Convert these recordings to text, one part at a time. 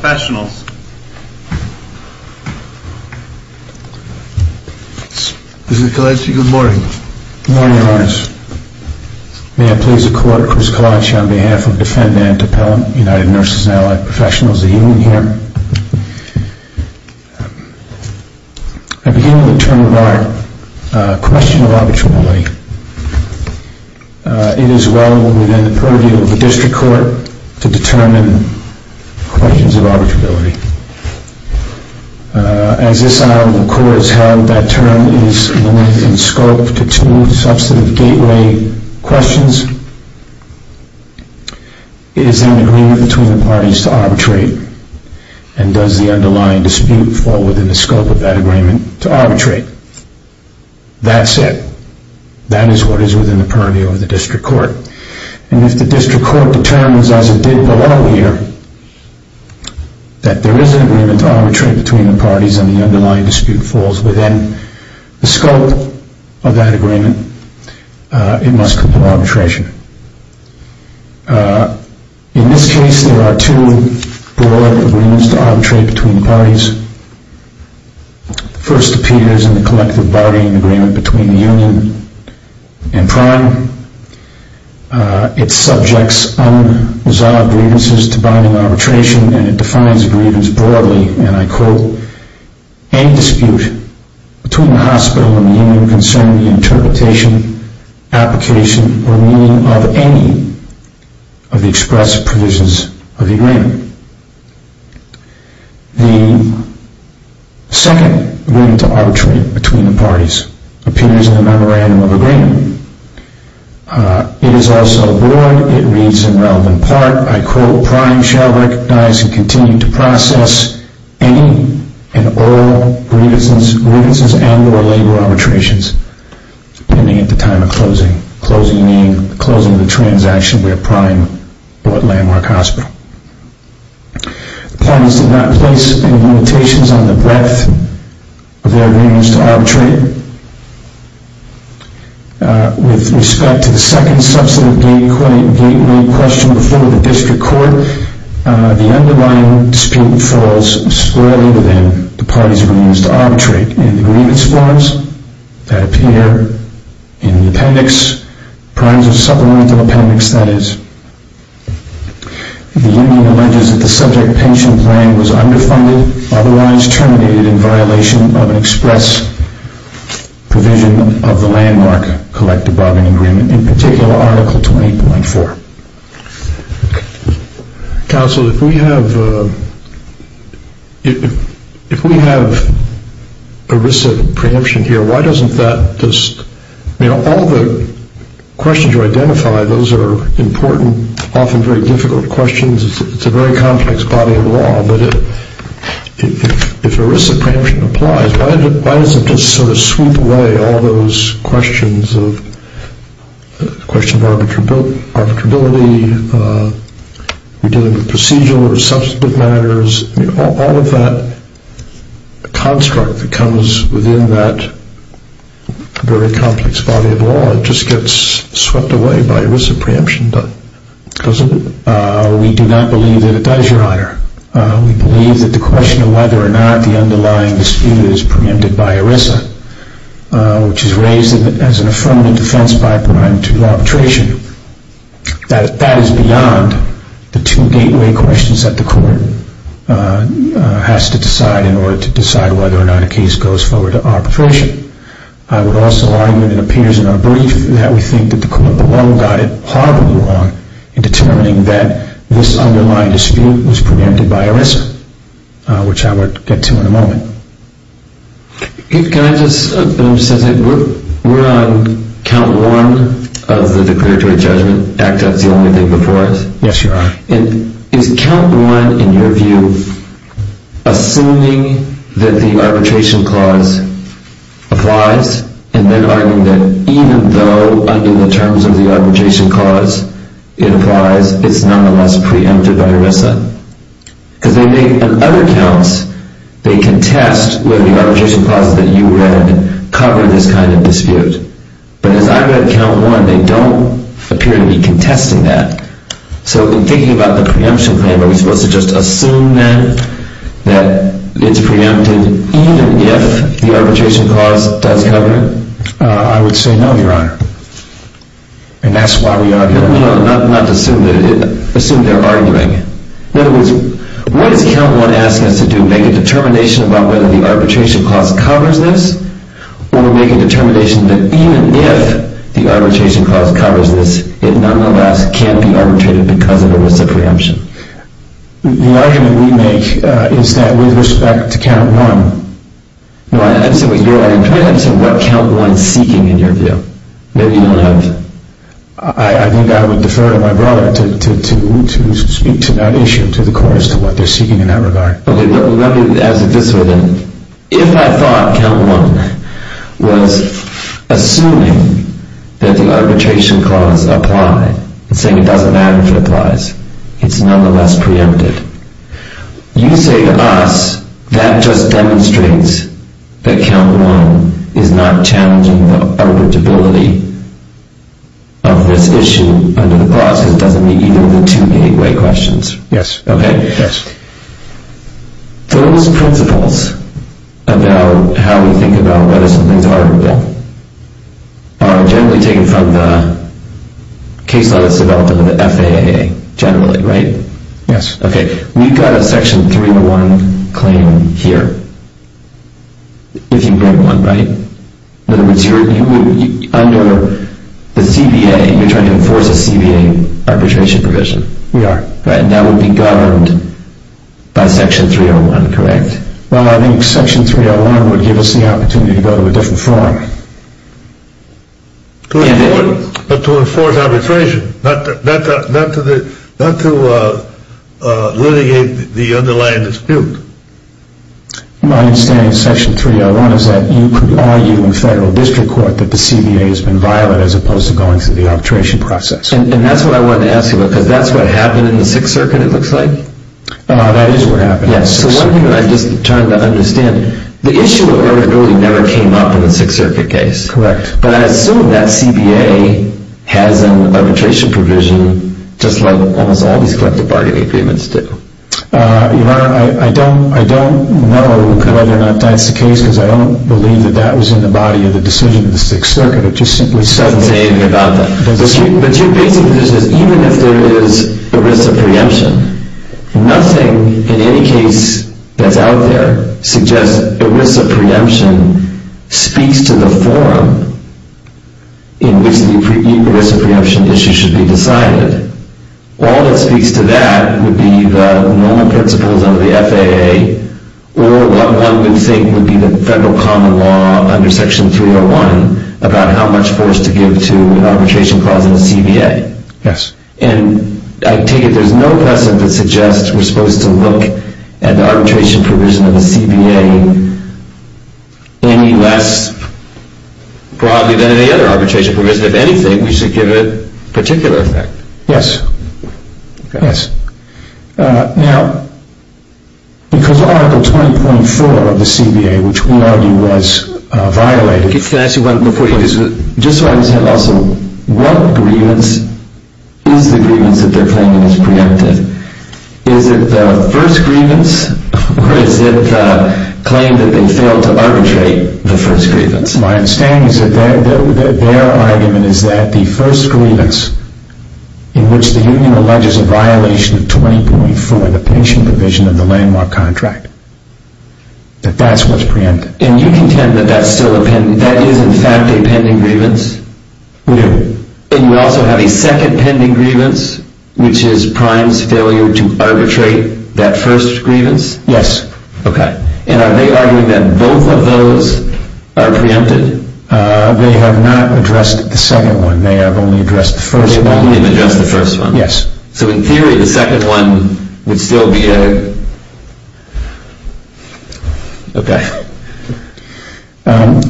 Professionals. Mr. Kalanchi, good morning. Good morning, Your Honors. May I please the Court, Chris Kalanchi, on behalf of Defendant Appellant, United Nurses and Allied Professionals. I begin with the term of our question of arbitrability. It is well within the purview of the District Court to determine questions of arbitrability. As this item of the Court has held, that term is limited in scope to two substantive gateway questions. Is there an agreement between the parties to arbitrate? And does the underlying dispute fall within the scope of that agreement to arbitrate? That's it. That is what is within the purview of the District Court. And if the District Court determines, as it did below here, that there is an agreement to arbitrate between the parties and the underlying dispute falls within the scope of that agreement, it must compel arbitration. In this case, there are two broad agreements to arbitrate between the parties. The first appears in the collective bargaining agreement between the Union and Prime. It subjects unresolved grievances to binding arbitration, and it defines grievance broadly, and I quote, any dispute between the hospital and the Union concerning the interpretation, application, or meaning of any of the expressed provisions of the agreement. The second agreement to arbitrate between the parties appears in the memorandum of agreement. It is also broad. It reads in relevant part, I quote, Prime shall recognize and continue to process any and all grievances and or labor arbitrations pending at the time of closing, closing meaning closing the transaction where Prime bought Landmark Hospital. The parties did not place any limitations on the breadth of their agreements to arbitrate. With respect to the second substantive gateway question before the district court, the underlying dispute falls squarely within the parties' agreements to arbitrate. In the grievance forms that appear in the appendix, Prime's supplemental appendix that is, the Union alleges that the subject pension plan was underfunded, otherwise terminated in violation of an express provision of the Landmark collective bargaining agreement, in particular article 20.4. Counsel, if we have ERISA preemption here, why doesn't that just, you know, all the questions you identified, those are important, often very difficult questions. It's a very complex body of law, but if ERISA preemption applies, why doesn't it just sort of sweep away all those questions of question of arbitrability, we're dealing with procedural or substantive matters, all of that construct that comes within that very complex body of law, it just gets swept away by ERISA preemption, doesn't it? We do not believe that it does, Your Honor. We believe that the question of whether or not ERISA, which is raised as an affirmative defense by Prime to arbitration, that is beyond the two gateway questions that the court has to decide in order to decide whether or not a case goes forward to arbitration. I would also argue that it appears in our brief that we think that the court alone got it horribly wrong in determining that this underlying dispute was preempted by ERISA, which I will get to in a moment. Can I just say, we're on count one of the declaratory judgment, ACT-Act's the only thing before it. Yes, Your Honor. And is count one, in your view, assuming that the arbitration clause applies, and then arguing that even though under the terms of the arbitration clause it applies, it's nonetheless preempted by ERISA? Because they make, on other counts, they contest whether the arbitration clauses that you read cover this kind of dispute. But as I read count one, they don't appear to be contesting that. So in thinking about the preemption claim, are we supposed to just assume then that it's preempted even if the arbitration clause does cover it? I would say no, Your Honor. And that's why we argue. Not to assume they're arguing. In other words, what is count one asking us to do, make a determination about whether the arbitration clause covers this, or make a determination that even if the arbitration clause covers this, it nonetheless can't be arbitrated because of ERISA preemption? The argument we make is that with respect to count one. No, I understand what you're arguing. I understand what count one is seeking in your view. Maybe you don't have... I think I would defer to my brother to speak to that issue, to the courts, to what they're seeking in that regard. Okay, well let me ask it this way then. If I thought count one was assuming that the arbitration clause applied, and saying it doesn't matter if it applies, it's nonetheless preempted. You say to us that just demonstrates that count one is not challenging the interpretability of this issue under the clause, because it doesn't meet either of the two gateway questions. Yes. Okay? Yes. Those principles about how we think about whether something's arbitrable are generally taken from the case law that's developed under the FAA generally, right? Yes. Okay, we've got a section 301 claim here, if you bring one, right? In other words, under the CBA, you're trying to enforce a CBA arbitration provision. We are. And that would be governed by section 301, correct? Well, I think section 301 would give us the opportunity to go to a different forum. But to enforce arbitration, not to litigate the underlying dispute. My understanding of section 301 is that you could argue in federal district court that the CBA has been violent as opposed to going through the arbitration process. And that's what I wanted to ask you about, because that's what happened in the Sixth Circuit, it looks like? That is what happened in the Sixth Circuit. Yes, so one thing that I'm just trying to understand, the issue of arbitrability never came up in the Sixth Circuit case. Correct. But I assume that CBA has an arbitration provision just like almost all these collective bargaining agreements do. Your Honor, I don't know whether or not that's the case, because I don't believe that that was in the body of the decision of the Sixth Circuit. It just simply said that. It doesn't say anything about that. But your basic position is even if there is ERISA preemption, nothing in any case that's out there suggests ERISA preemption speaks to the forum in which the ERISA preemption issue should be decided. All that speaks to that would be the normal principles under the FAA, or what one would think would be the federal common law under section 301 about how much force to give to an arbitration clause in the CBA. Yes. And I take it there's no precedent that suggests we're supposed to look at the arbitration provision of the CBA any less broadly than any other arbitration provision. If anything, we should give it particular effect. Yes. Okay. Yes. Now, because Article 20.4 of the CBA, which we know was violated, just so I understand also, what grievance is the grievance that they're claiming is preemptive? Is it the first grievance, or is it the claim that they failed to arbitrate the first grievance? My understanding is that their argument is that the first grievance in which the union alleges a violation of 20.4 of the patient provision of the landmark contract, that that's what's preemptive. And you contend that that is in fact a pending grievance? Yes. And you also have a second pending grievance, which is Prime's failure to arbitrate that first grievance? Yes. Okay. And are they arguing that both of those are preempted? They have not addressed the second one. They have only addressed the first one. They've only addressed the first one. Yes. So in theory, the second one would still be a... Okay.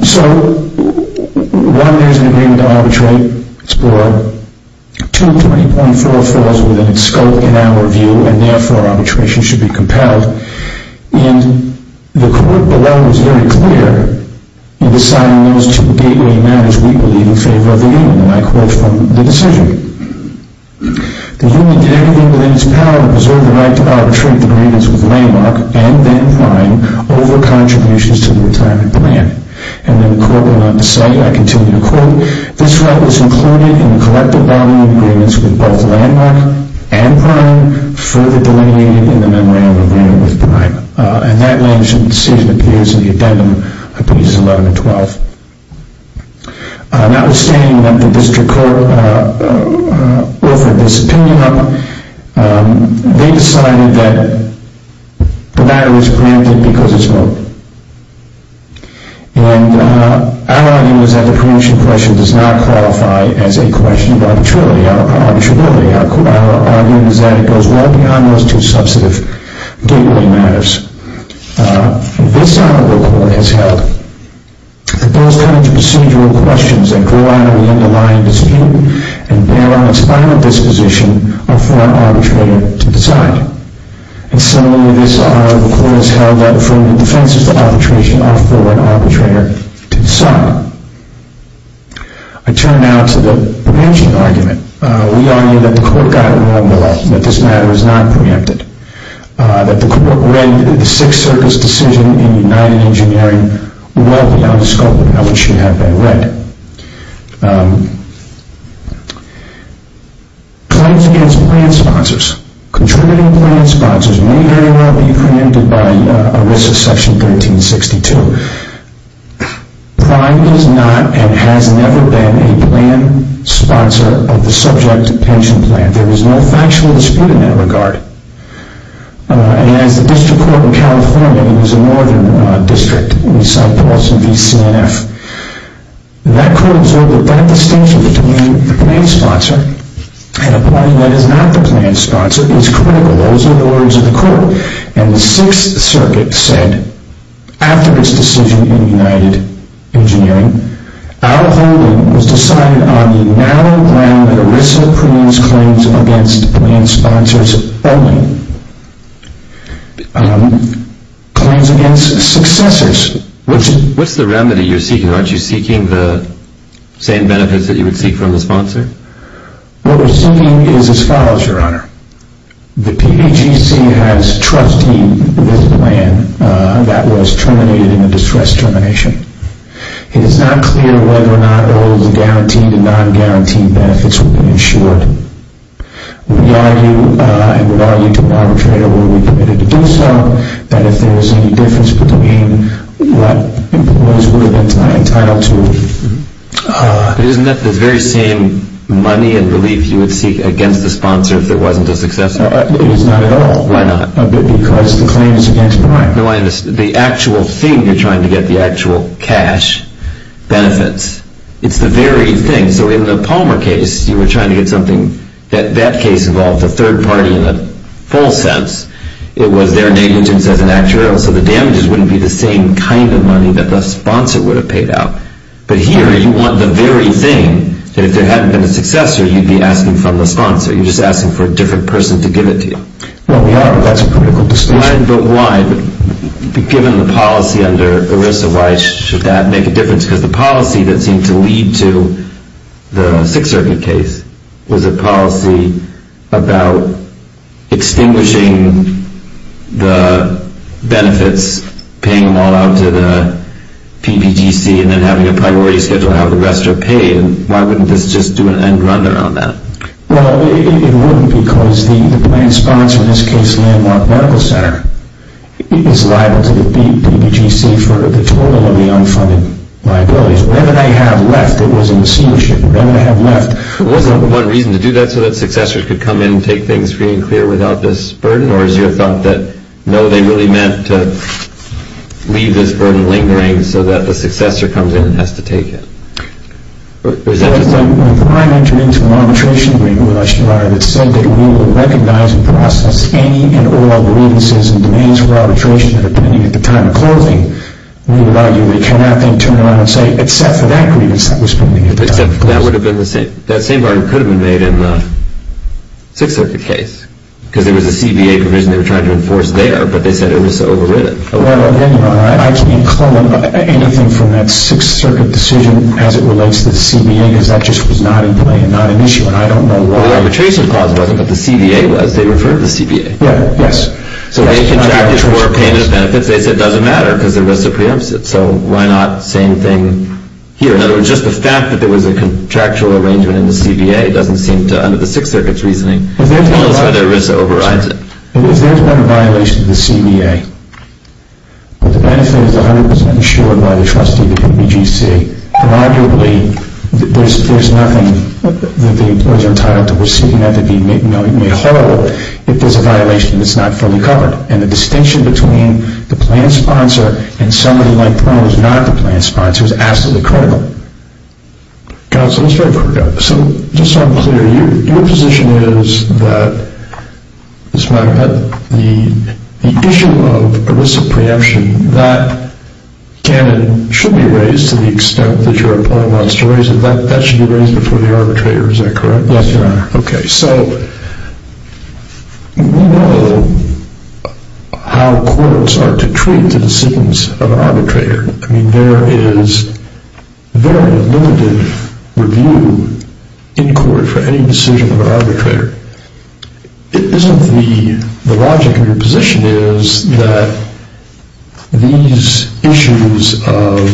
So, one, there's an agreement to arbitrate, explore. Two, 20.4 falls within its scope in our view, and therefore arbitration should be compelled. And the court below was very clear in deciding those two gateway matters we believe in favor of the union, and I quote from the decision. The union did everything within its power to preserve the right to arbitrate the grievance with Landmark and then Prime over contributions to the retirement plan. And then the court went on to say, I continue to quote, this right was included in the collective bargaining agreements with both Landmark and Prime, further delineated in the memorandum agreement with Prime. And that decision appears in the addendum of pages 11 and 12. Notwithstanding that the district court offered this opinion on them, they decided that the matter was preempted because of scope. And our argument is that the preemption question does not qualify as a question of arbitrarily or arbitrability. Our argument is that it goes well beyond those two substantive gateway matters. This honorable court has held that those kinds of procedural questions that go out of the underlying dispute and bear on its final disposition are for an arbitrator to decide. And similarly, this honorable court has held that from the defense of arbitration are for an arbitrator to decide. I turn now to the preemption argument. We argue that the court got it wrong below, that this matter is not preempted, that the Sixth Circus decision in United Engineering well beyond scope of how it should have been read. Claims against plan sponsors. Contributing plan sponsors may very well be preempted by ERISA section 1362. Prime is not and has never been a plan sponsor of the subject pension plan. There is no factual dispute in that regard. And as the district court in California, it was a northern district, we saw Paulson v. CNF. That court observed that that distinction between the plan sponsor and a party that is not the plan sponsor is critical. Those are the words of the court. And the Sixth Circuit said, after this decision in United Engineering, our holding was decided on the narrow ground that ERISA preempts claims against plan sponsors only. Claims against successors. What's the remedy you're seeking? Aren't you seeking the same benefits that you would seek from the sponsor? What we're seeking is as follows, Your Honor. The PGC has trusted this plan that was terminated in a distress termination. It is not clear whether or not ERLA's guaranteed and non-guaranteed benefits will be insured. We argue, and would argue to arbitrate or would we be permitted to do so, that if there is any difference between what employees would have been entitled to. Isn't that the very same money and relief you would seek against the sponsor if it wasn't a successor? It is not at all. Why not? Because the claim is against Prime. Dr. Linus, the actual thing you're trying to get, the actual cash benefits, it's the very thing. So in the Palmer case, you were trying to get something that that case involved a third party in the full sense. It was their negligence as an actuarial. So the damages wouldn't be the same kind of money that the sponsor would have paid out. But here, you want the very thing that if there hadn't been a successor, you'd be asking from the sponsor. You're just asking for a different person to give it to you. Well, we are, but that's a political discussion. But why, given the policy under ERISA, why should that make a difference? Because the policy that seemed to lead to the Sixth Circuit case was a policy about extinguishing the benefits, paying them all out to the PPGC, and then having a priority schedule how the rest are paid. Why wouldn't this just do an end run around that? Well, it wouldn't because the planned sponsor, in this case, Landmark Medical Center, is liable to the PPGC for the total of the unfunded liabilities. Whatever they have left, it was a machineship. Whatever they have left- Wasn't one reason to do that so that successors could come in and take things free and clear without this burden? Or is your thought that, no, they really meant to leave this burden lingering so that the successor comes in and has to take it? When the Prime Minister intervenes with an arbitration agreement with the National Barter, it's said that we will recognize and process any and all grievances and demands for arbitration that have been made at the time of closing. We would argue they cannot, then, turn around and say, except for that grievance that was made at the time of closing. That same argument could have been made in the Sixth Circuit case, because there was a CBA provision they were trying to enforce there, but they said it was so overwritten. I can't call anything from that Sixth Circuit decision as it relates to the CBA, because that just was not in play and not an issue. And I don't know why- Well, the arbitration clause wasn't, but the CBA was. They referred to the CBA. Yes. So they contracted for payment of benefits. They said it doesn't matter, because there was a preemptive. So why not same thing here? In other words, just the fact that there was a contractual arrangement in the CBA doesn't seem to, under the Sixth Circuit's reasoning, tell us whether ERISA overrides it. If there's been a violation of the CBA, if the benefit is 100% insured by the trustee of the WGC, then, arguably, there's nothing that the employees are entitled to receiving that would be made horrible if there's a violation that's not fully covered. And the distinction between the plan sponsor and somebody like Perl is not the plan sponsor. It's absolutely critical. Counsel, let's start with Perl. Just so I'm clear, your position is that, as a matter of fact, the issue of ERISA preemption, that can and should be raised to the extent that your employee wants to raise it. That should be raised before the arbitrator. Is that correct? Yes, Your Honor. Okay. So we know how courts are to treat the dissentance of an arbitrator. I mean, there is very limited review in court for any decision of an arbitrator. The logic of your position is that these issues of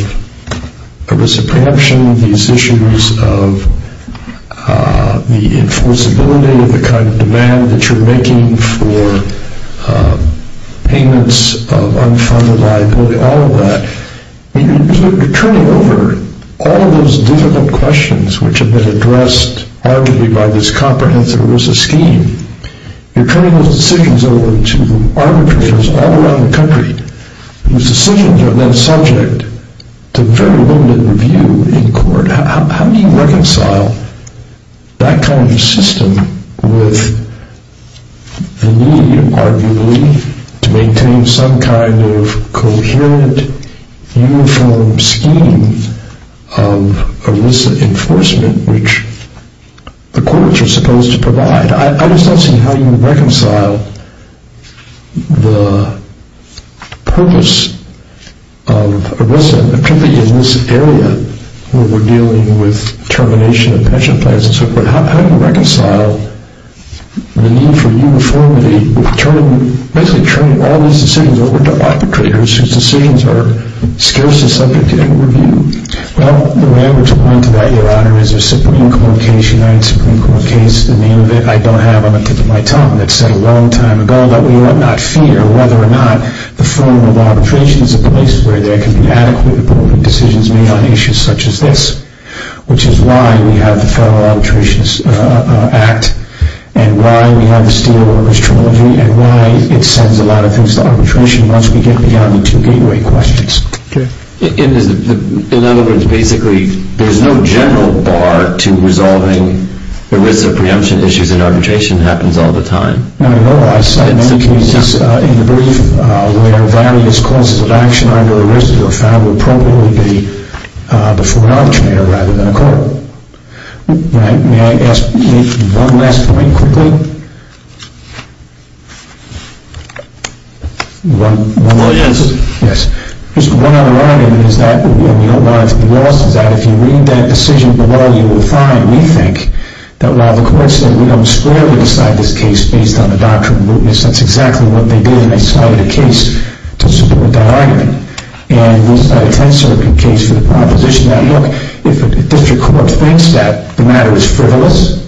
ERISA preemption, these issues of the enforceability of the kind of demand that you're making for payments of unfunded liability, all of that, you're turning over all of those difficult questions which have been addressed arguably by this comprehensive ERISA scheme. You're turning those decisions over to arbitrators all around the country whose decisions are then subject to very limited review in court. How do you reconcile that kind of system with the need, arguably, to maintain some kind of coherent, uniform scheme of ERISA enforcement, which the courts are supposed to provide? I'm just asking how you reconcile the purpose of ERISA, particularly in this area where we're dealing with termination of pension plans and so forth. How do you reconcile the need for uniformity with basically turning all these decisions over to arbitrators whose decisions are scarcely subject to any review? Well, the way I'm going to point to that, Your Honor, is the Supreme Court case, the 1989 Supreme Court case, the name of it, I don't have on the tip of my tongue. It's said a long time ago that we ought not fear whether or not the form of arbitration is a place where there can be adequately appropriate decisions made on issues such as this, which is why we have the Federal Arbitration Act and why we have the Steelworkers Trilogy and why it sends a lot of things to arbitration once we get beyond the two gateway questions. In other words, basically, there's no general bar to resolving ERISA preemption issues and arbitration happens all the time. No, I said in the brief where various causes of action under ERISA are found to appropriately be before an arbitrator rather than a court. May I ask one last point quickly? Well, yes. One other argument is that, and you don't want it to be lost, is that if you read that decision below, you will find, we think, that while the court said we don't squarely decide this case based on the doctrine of mootness, that's exactly what they did and they cited a case to support that argument. And the 10th Circuit case with the proposition that, look, if a district court thinks that the matter is frivolous,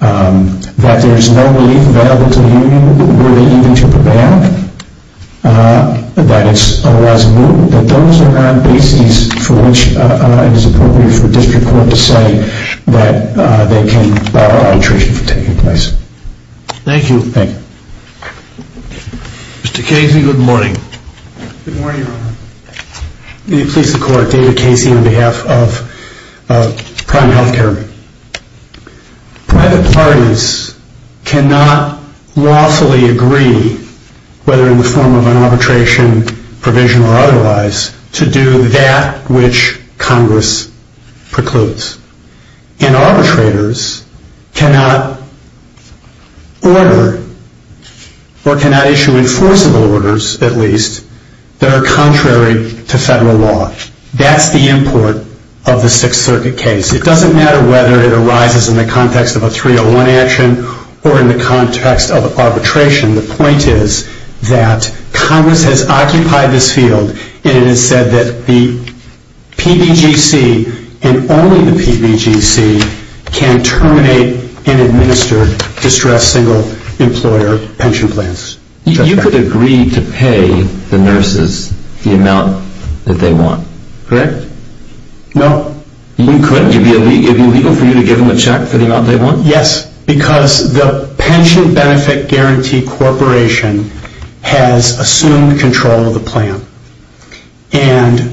that there's no relief available to the union where they need to prevail, that it's otherwise moot, that those are not bases for which it is appropriate for a district court to say that they can bar arbitration from taking place. Thank you. Thank you. Mr. Casey, good morning. Good morning, Your Honor. Please support David Casey on behalf of Prime Health Care. Private parties cannot lawfully agree, whether in the form of an arbitration provision or otherwise, to do that which Congress precludes. And arbitrators cannot order or cannot issue enforceable orders, at least, that are contrary to federal law. That's the import of the Sixth Circuit case. It doesn't matter whether it arises in the context of a 301 action or in the context of arbitration. The point is that Congress has occupied this field and it has said that the PBGC and only the PBGC can terminate and administer distressed single-employer pension plans. You could agree to pay the nurses the amount that they want, correct? No. You couldn't? It would be illegal for you to give them a check for the amount they want? Yes, because the Pension Benefit Guarantee Corporation has assumed control of the plan. And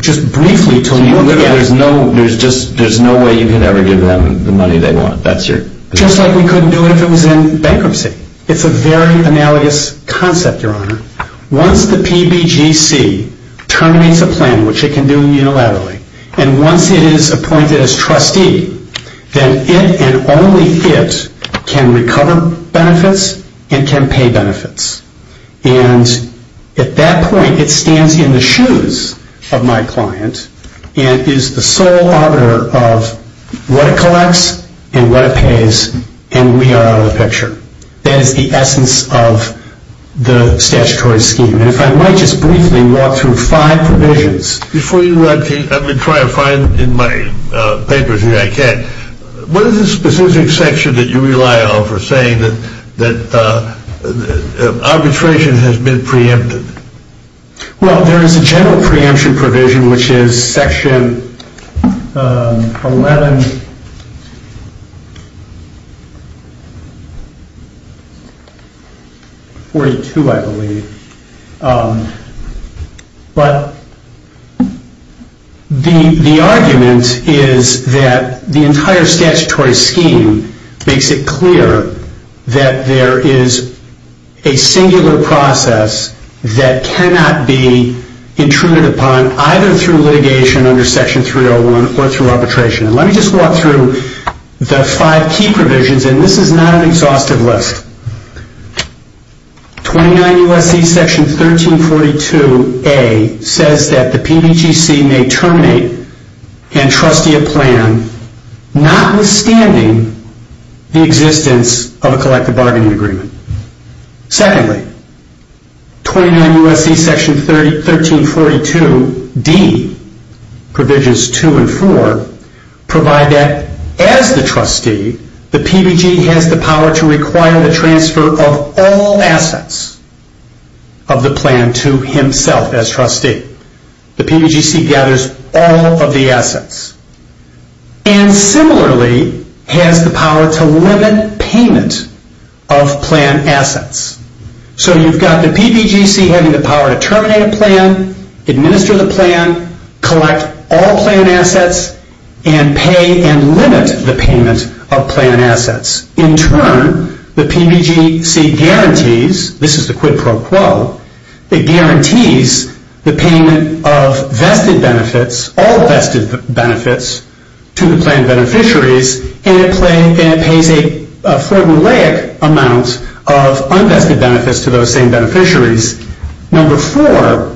just briefly to look at it. So there's no way you could ever give them the money they want? Just like we couldn't do it if it was in bankruptcy. It's a very analogous concept, Your Honor. Once the PBGC terminates a plan, which it can do unilaterally, and once it is appointed as trustee, then it and only it can recover benefits and can pay benefits. And at that point, it stands in the shoes of my client and is the sole auditor of what it collects and what it pays, and we are out of the picture. That is the essence of the statutory scheme. And if I might just briefly walk through five provisions. Before you let me try to find in my papers what I can, what is the specific section that you rely on for saying that arbitration has been preempted? Well, there is a general preemption provision, which is Section 1142, I believe. But the argument is that the entire statutory scheme makes it clear that there is a singular process that cannot be intruded upon either through litigation under Section 301 or through arbitration. Let me just walk through the five key provisions, and this is not an exhaustive list. 29 U.S.C. Section 1342a says that the PBGC may terminate and trustee a plan notwithstanding the existence of a collective bargaining agreement. Secondly, 29 U.S.C. Section 1342d, Provisions 2 and 4, provide that as the trustee, the PBG has the power to require the transfer of all assets of the plan to himself as trustee. The PBGC gathers all of the assets. And similarly, has the power to limit payment of plan assets. So you've got the PBGC having the power to terminate a plan, administer the plan, collect all plan assets, and pay and limit the payment of plan assets. In turn, the PBGC guarantees, this is the quid pro quo, it guarantees the payment of vested benefits, all vested benefits, to the plan beneficiaries, and it pays a formulaic amount of unvested benefits to those same beneficiaries. Number four,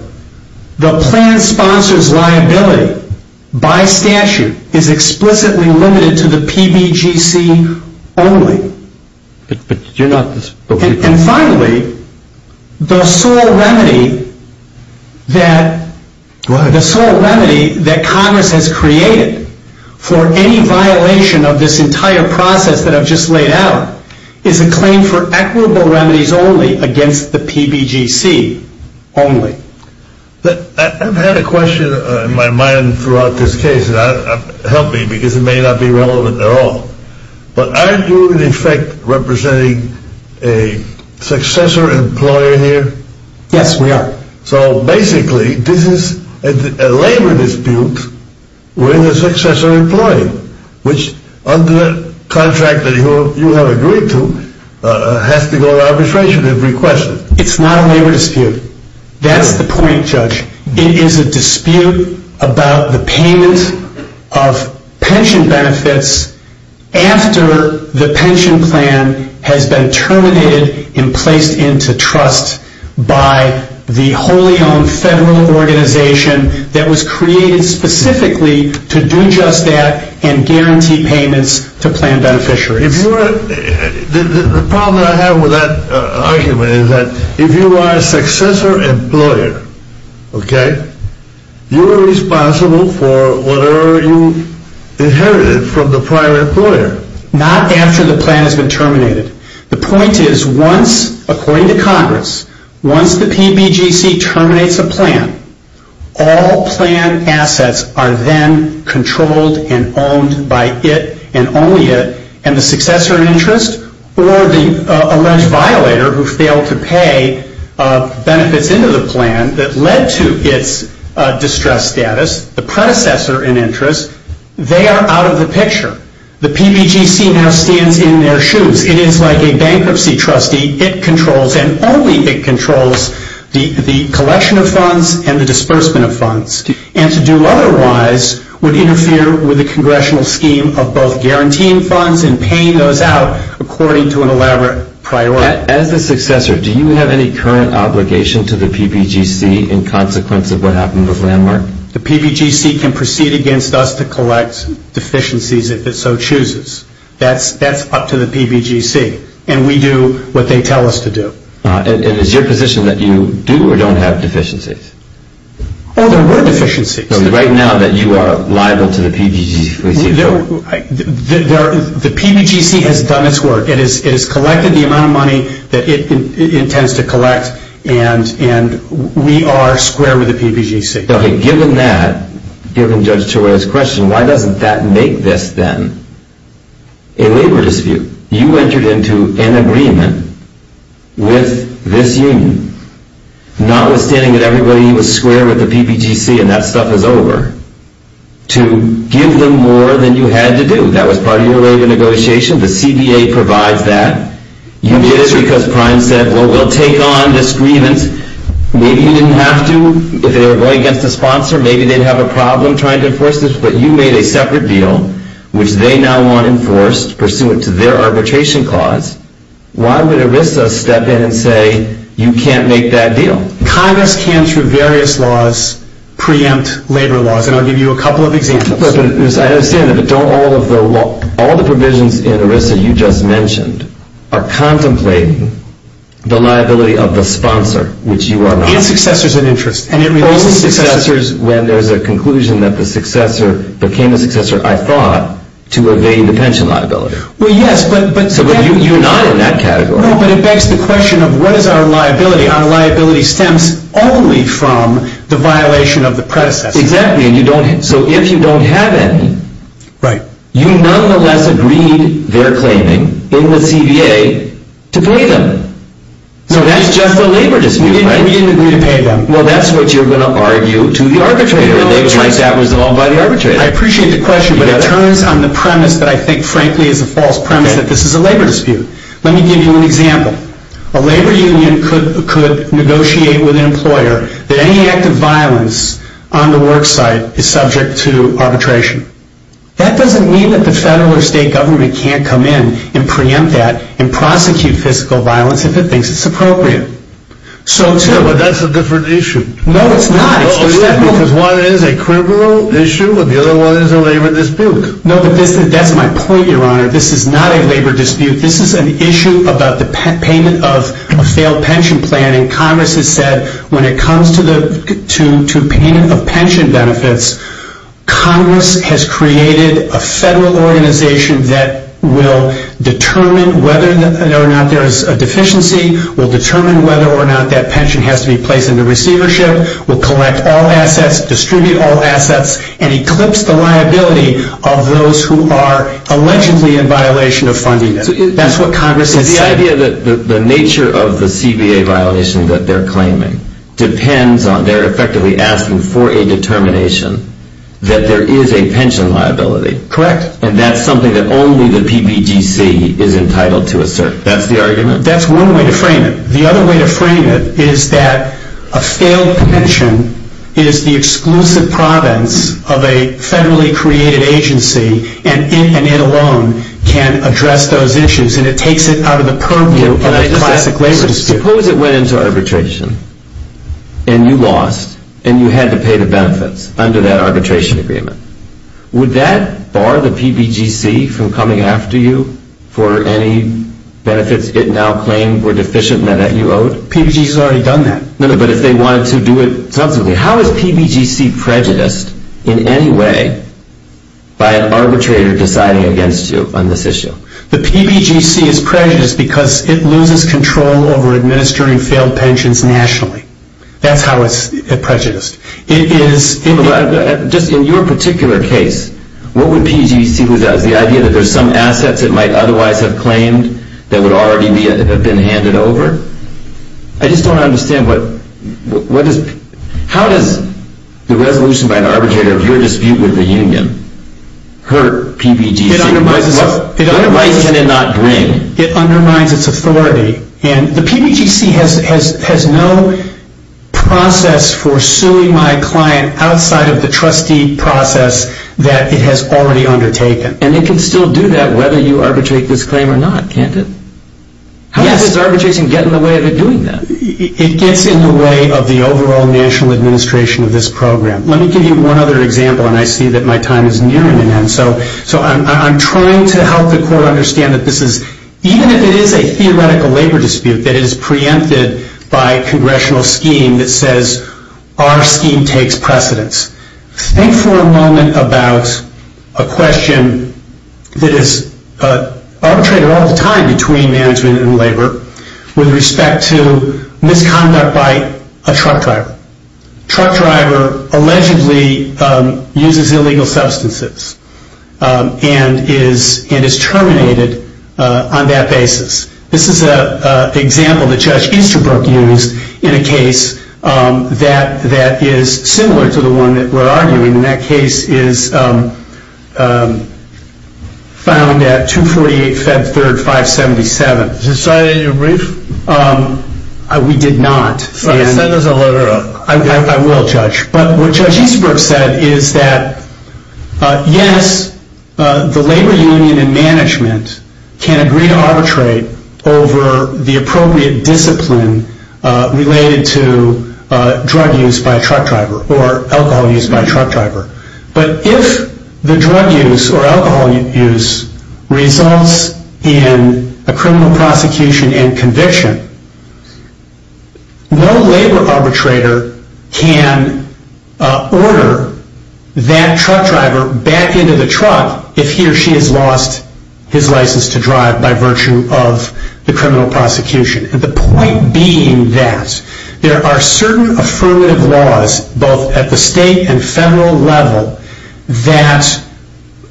the plan sponsor's liability by statute is explicitly limited to the PBGC only. And finally, the sole remedy that Congress has created for any violation of this entire process that I've just laid out is a claim for equitable remedies only against the PBGC only. I've had a question in my mind throughout this case, and help me, because it may not be relevant at all. But aren't you, in effect, representing a successor employer here? Yes, we are. So basically, this is a labor dispute with a successor employee, which under the contract that you have agreed to, has to go to the administration to request it. It's not a labor dispute. That's the point, Judge. It is a dispute about the payment of pension benefits after the pension plan has been terminated and placed into trust by the wholly owned federal organization that was created specifically to do just that and guarantee payments to plan beneficiaries. The problem that I have with that argument is that if you are a successor employer, you are responsible for whatever you inherited from the prior employer. Not after the plan has been terminated. The point is, according to Congress, once the PBGC terminates a plan, all plan assets are then controlled and owned by it and only it, and the successor in interest or the alleged violator who failed to pay benefits into the plan that led to its distressed status, the predecessor in interest, they are out of the picture. The PBGC now stands in their shoes. It is like a bankruptcy trustee. It controls and only it controls the collection of funds and the disbursement of funds and to do otherwise would interfere with the congressional scheme of both guaranteeing funds and paying those out according to an elaborate priority. As a successor, do you have any current obligation to the PBGC in consequence of what happened with Landmark? The PBGC can proceed against us to collect deficiencies if it so chooses. That's up to the PBGC, and we do what they tell us to do. And is your position that you do or don't have deficiencies? Oh, there were deficiencies. So right now that you are liable to the PBGC. The PBGC has done its work. It has collected the amount of money that it intends to collect, and we are square with the PBGC. Okay, given that, given Judge Torreira's question, why doesn't that make this then a labor dispute? You entered into an agreement with this union, notwithstanding that everybody was square with the PBGC and that stuff is over, to give them more than you had to do. That was part of your labor negotiation. The CDA provides that. You did it because Prime said, well, we'll take on this grievance. Maybe you didn't have to. If they were going against a sponsor, maybe they'd have a problem trying to enforce this. But you made a separate deal, which they now want enforced pursuant to their arbitration clause. Why would ERISA step in and say you can't make that deal? Congress can, through various laws, preempt labor laws, and I'll give you a couple of examples. I understand that, but don't all of the provisions in ERISA you just mentioned are contemplating the liability of the sponsor, which you are not? It's successors and interests. Only successors when there's a conclusion that the successor became a successor, I thought, to evade the pension liability. Well, yes. But you're not in that category. No, but it begs the question of what is our liability? Our liability stems only from the violation of the predecessor. Exactly. So if you don't have any, you nonetheless agreed their claiming in the CDA to pay them. So that's just a labor dispute. We didn't agree to pay them. Well, that's what you're going to argue to the arbitrator. And they would like that resolved by the arbitrator. I appreciate the question, but it turns on the premise that I think, frankly, is a false premise that this is a labor dispute. Let me give you an example. A labor union could negotiate with an employer that any act of violence on the work site is subject to arbitration. That doesn't mean that the federal or state government can't come in and preempt that and prosecute physical violence if it thinks it's appropriate. But that's a different issue. No, it's not. Because one is a criminal issue and the other one is a labor dispute. No, but that's my point, Your Honor. This is not a labor dispute. This is an issue about the payment of a failed pension plan. And Congress has said when it comes to payment of pension benefits, Congress has created a federal organization that will determine whether or not there is a deficiency, will determine whether or not that pension has to be placed into receivership, will collect all assets, distribute all assets, and eclipse the liability of those who are allegedly in violation of funding. That's what Congress has said. The idea that the nature of the CBA violation that they're claiming depends on they're effectively asking for a determination that there is a pension liability. Correct. And that's something that only the PBGC is entitled to assert. That's the argument? That's one way to frame it. The other way to frame it is that a failed pension is the exclusive province of a federally created agency and it alone can address those issues. And it takes it out of the purview of a classic labor dispute. Suppose it went into arbitration and you lost and you had to pay the benefits under that arbitration agreement. Would that bar the PBGC from coming after you for any benefits it now claimed were deficient and that you owed? PBGC has already done that. No, but if they wanted to do it subsequently. How is PBGC prejudiced in any way by an arbitrator deciding against you on this issue? The PBGC is prejudiced because it loses control over administering failed pensions nationally. That's how it's prejudiced. In your particular case, what would PBGC lose out? Is the idea that there's some assets it might otherwise have claimed that would already have been handed over? I just don't understand. How does the resolution by an arbitrator of your dispute with the union hurt PBGC? It undermines its authority. And the PBGC has no process for suing my client outside of the trustee process that it has already undertaken. And it can still do that whether you arbitrate this claim or not, can't it? Yes. How does arbitration get in the way of it doing that? It gets in the way of the overall national administration of this program. Let me give you one other example, and I see that my time is nearing an end. So I'm trying to help the court understand that this is, even if it is a theoretical labor dispute that is preempted by congressional scheme that says our scheme takes precedence. Think for a moment about a question that is arbitrated all the time between management and labor with respect to misconduct by a truck driver. A truck driver allegedly uses illegal substances and is terminated on that basis. This is an example that Judge Easterbrook used in a case that is similar to the one that we're arguing. And that case is found at 248 Feb 3rd, 577. Was it cited in your brief? We did not. All right, send us a letter. I will, Judge. But what Judge Easterbrook said is that, yes, the labor union and management can agree to arbitrate over the appropriate discipline related to drug use by a truck driver or alcohol use by a truck driver. But if the drug use or alcohol use results in a criminal prosecution and conviction, no labor arbitrator can order that truck driver back into the truck if he or she has lost his license to drive by virtue of the criminal prosecution. The point being that there are certain affirmative laws, both at the state and federal level, that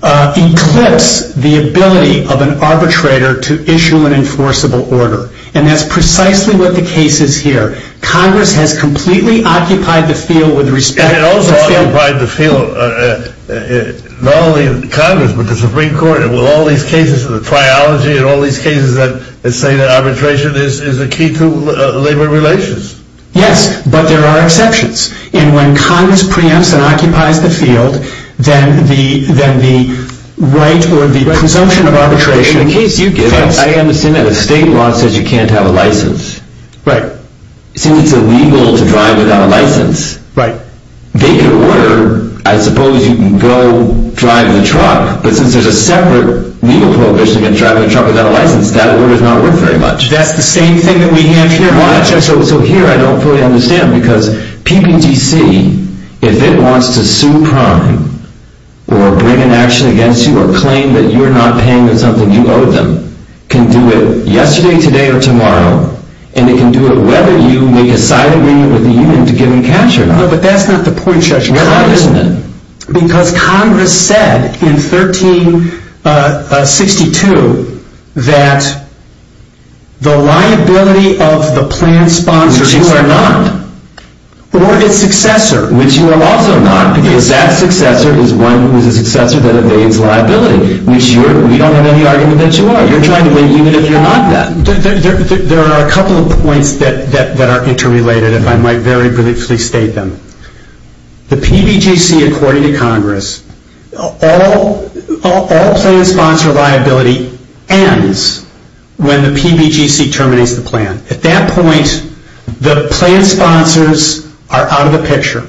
eclipse the ability of an arbitrator to issue an enforceable order. And that's precisely what the case is here. Congress has completely occupied the field with respect to the field. And it also occupied the field not only of Congress but the Supreme Court. Well, all these cases of the triology and all these cases that say that arbitration is the key to labor relations. Yes, but there are exceptions. And when Congress preempts and occupies the field, then the right or the presumption of arbitration... In the case you give us, I understand that a state law says you can't have a license. Right. Since it's illegal to drive without a license. Right. They can order, I suppose you can go drive in a truck. But since there's a separate legal prohibition against driving in a truck without a license, that order's not worth very much. That's the same thing that we have here. So here I don't fully understand. Because PPTC, if it wants to sue prime or bring an action against you or claim that you're not paying them something you owe them, can do it yesterday, today, or tomorrow. And it can do it whether you make a side agreement with the union to give them cash or not. No, but that's not the point, Judge. Why isn't it? Because Congress said in 1362 that the liability of the plan sponsors... Which you are not. Or its successor, which you are also not, because that successor is one who is a successor that evades liability. We don't have any argument that you are. You're trying to win even if you're not that. There are a couple of points that are interrelated, if I might very briefly state them. The PBGC, according to Congress, all plan sponsor liability ends when the PBGC terminates the plan. At that point, the plan sponsors are out of the picture.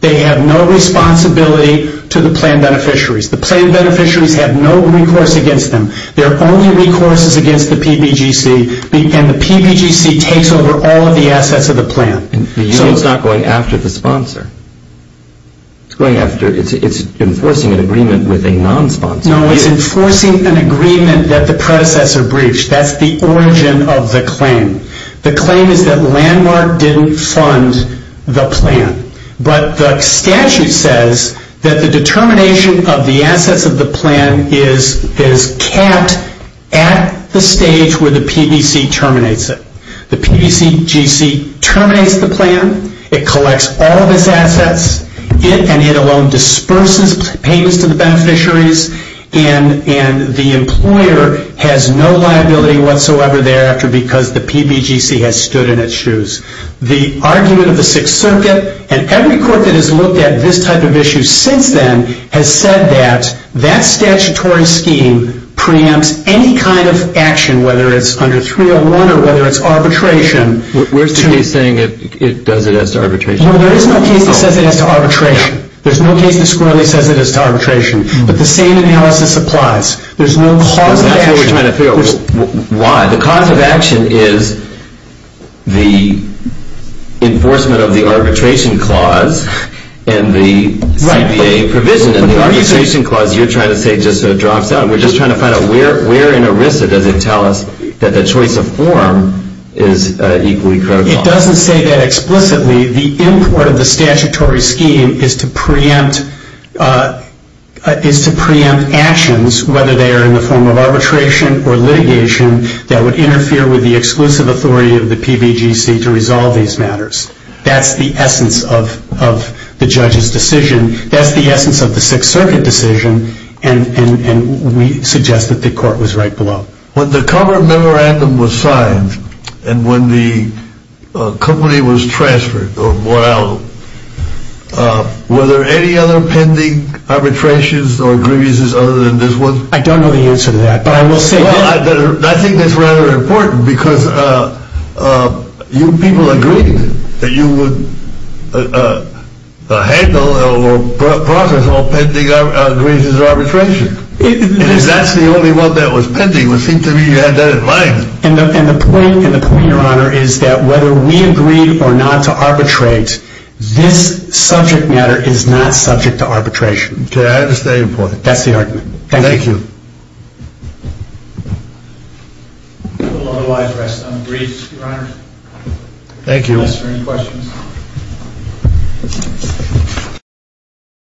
They have no responsibility to the plan beneficiaries. The plan beneficiaries have no recourse against them. There are only recourses against the PBGC, and the PBGC takes over all of the assets of the plan. The union is not going after the sponsor. It's enforcing an agreement with a non-sponsor. No, it's enforcing an agreement that the predecessor breached. That's the origin of the claim. The claim is that Landmark didn't fund the plan. But the statute says that the determination of the assets of the plan is kept at the stage where the PBC terminates it. The PBCGC terminates the plan. It collects all of its assets, and it alone disperses payments to the beneficiaries, and the employer has no liability whatsoever thereafter because the PBGC has stood in its shoes. The argument of the Sixth Circuit, and every court that has looked at this type of issue since then, has said that that statutory scheme preempts any kind of action, whether it's under 301 or whether it's arbitration. Where's the case saying it does it as to arbitration? No, there is no case that says it as to arbitration. There's no case that squarely says it as to arbitration. But the same analysis applies. There's no cause of action. That's what we're trying to figure out. Why? The cause of action is the enforcement of the arbitration clause and the CBA provision, and the arbitration clause, you're trying to say just drops out. We're just trying to find out where in ERISA does it tell us that the choice of form is equally critical. It doesn't say that explicitly. The import of the statutory scheme is to preempt actions, whether they are in the form of arbitration or litigation, that would interfere with the exclusive authority of the PBGC to resolve these matters. That's the essence of the judge's decision. That's the essence of the Sixth Circuit decision, and we suggest that the court was right below. When the cover memorandum was signed and when the company was transferred or bought out, were there any other pending arbitrations or grievances other than this one? I don't know the answer to that, but I will say that. I think that's rather important because you people agreed that you would handle or process all pending grievances or arbitrations. If that's the only one that was pending, it would seem to me you had that in mind. And the point, Your Honor, is that whether we agreed or not to arbitrate, this subject matter is not subject to arbitration. Okay, I understand your point. That's the argument. Thank you. Thank you. Otherwise, rest unbriefed, Your Honor. Thank you. Unless there are any questions.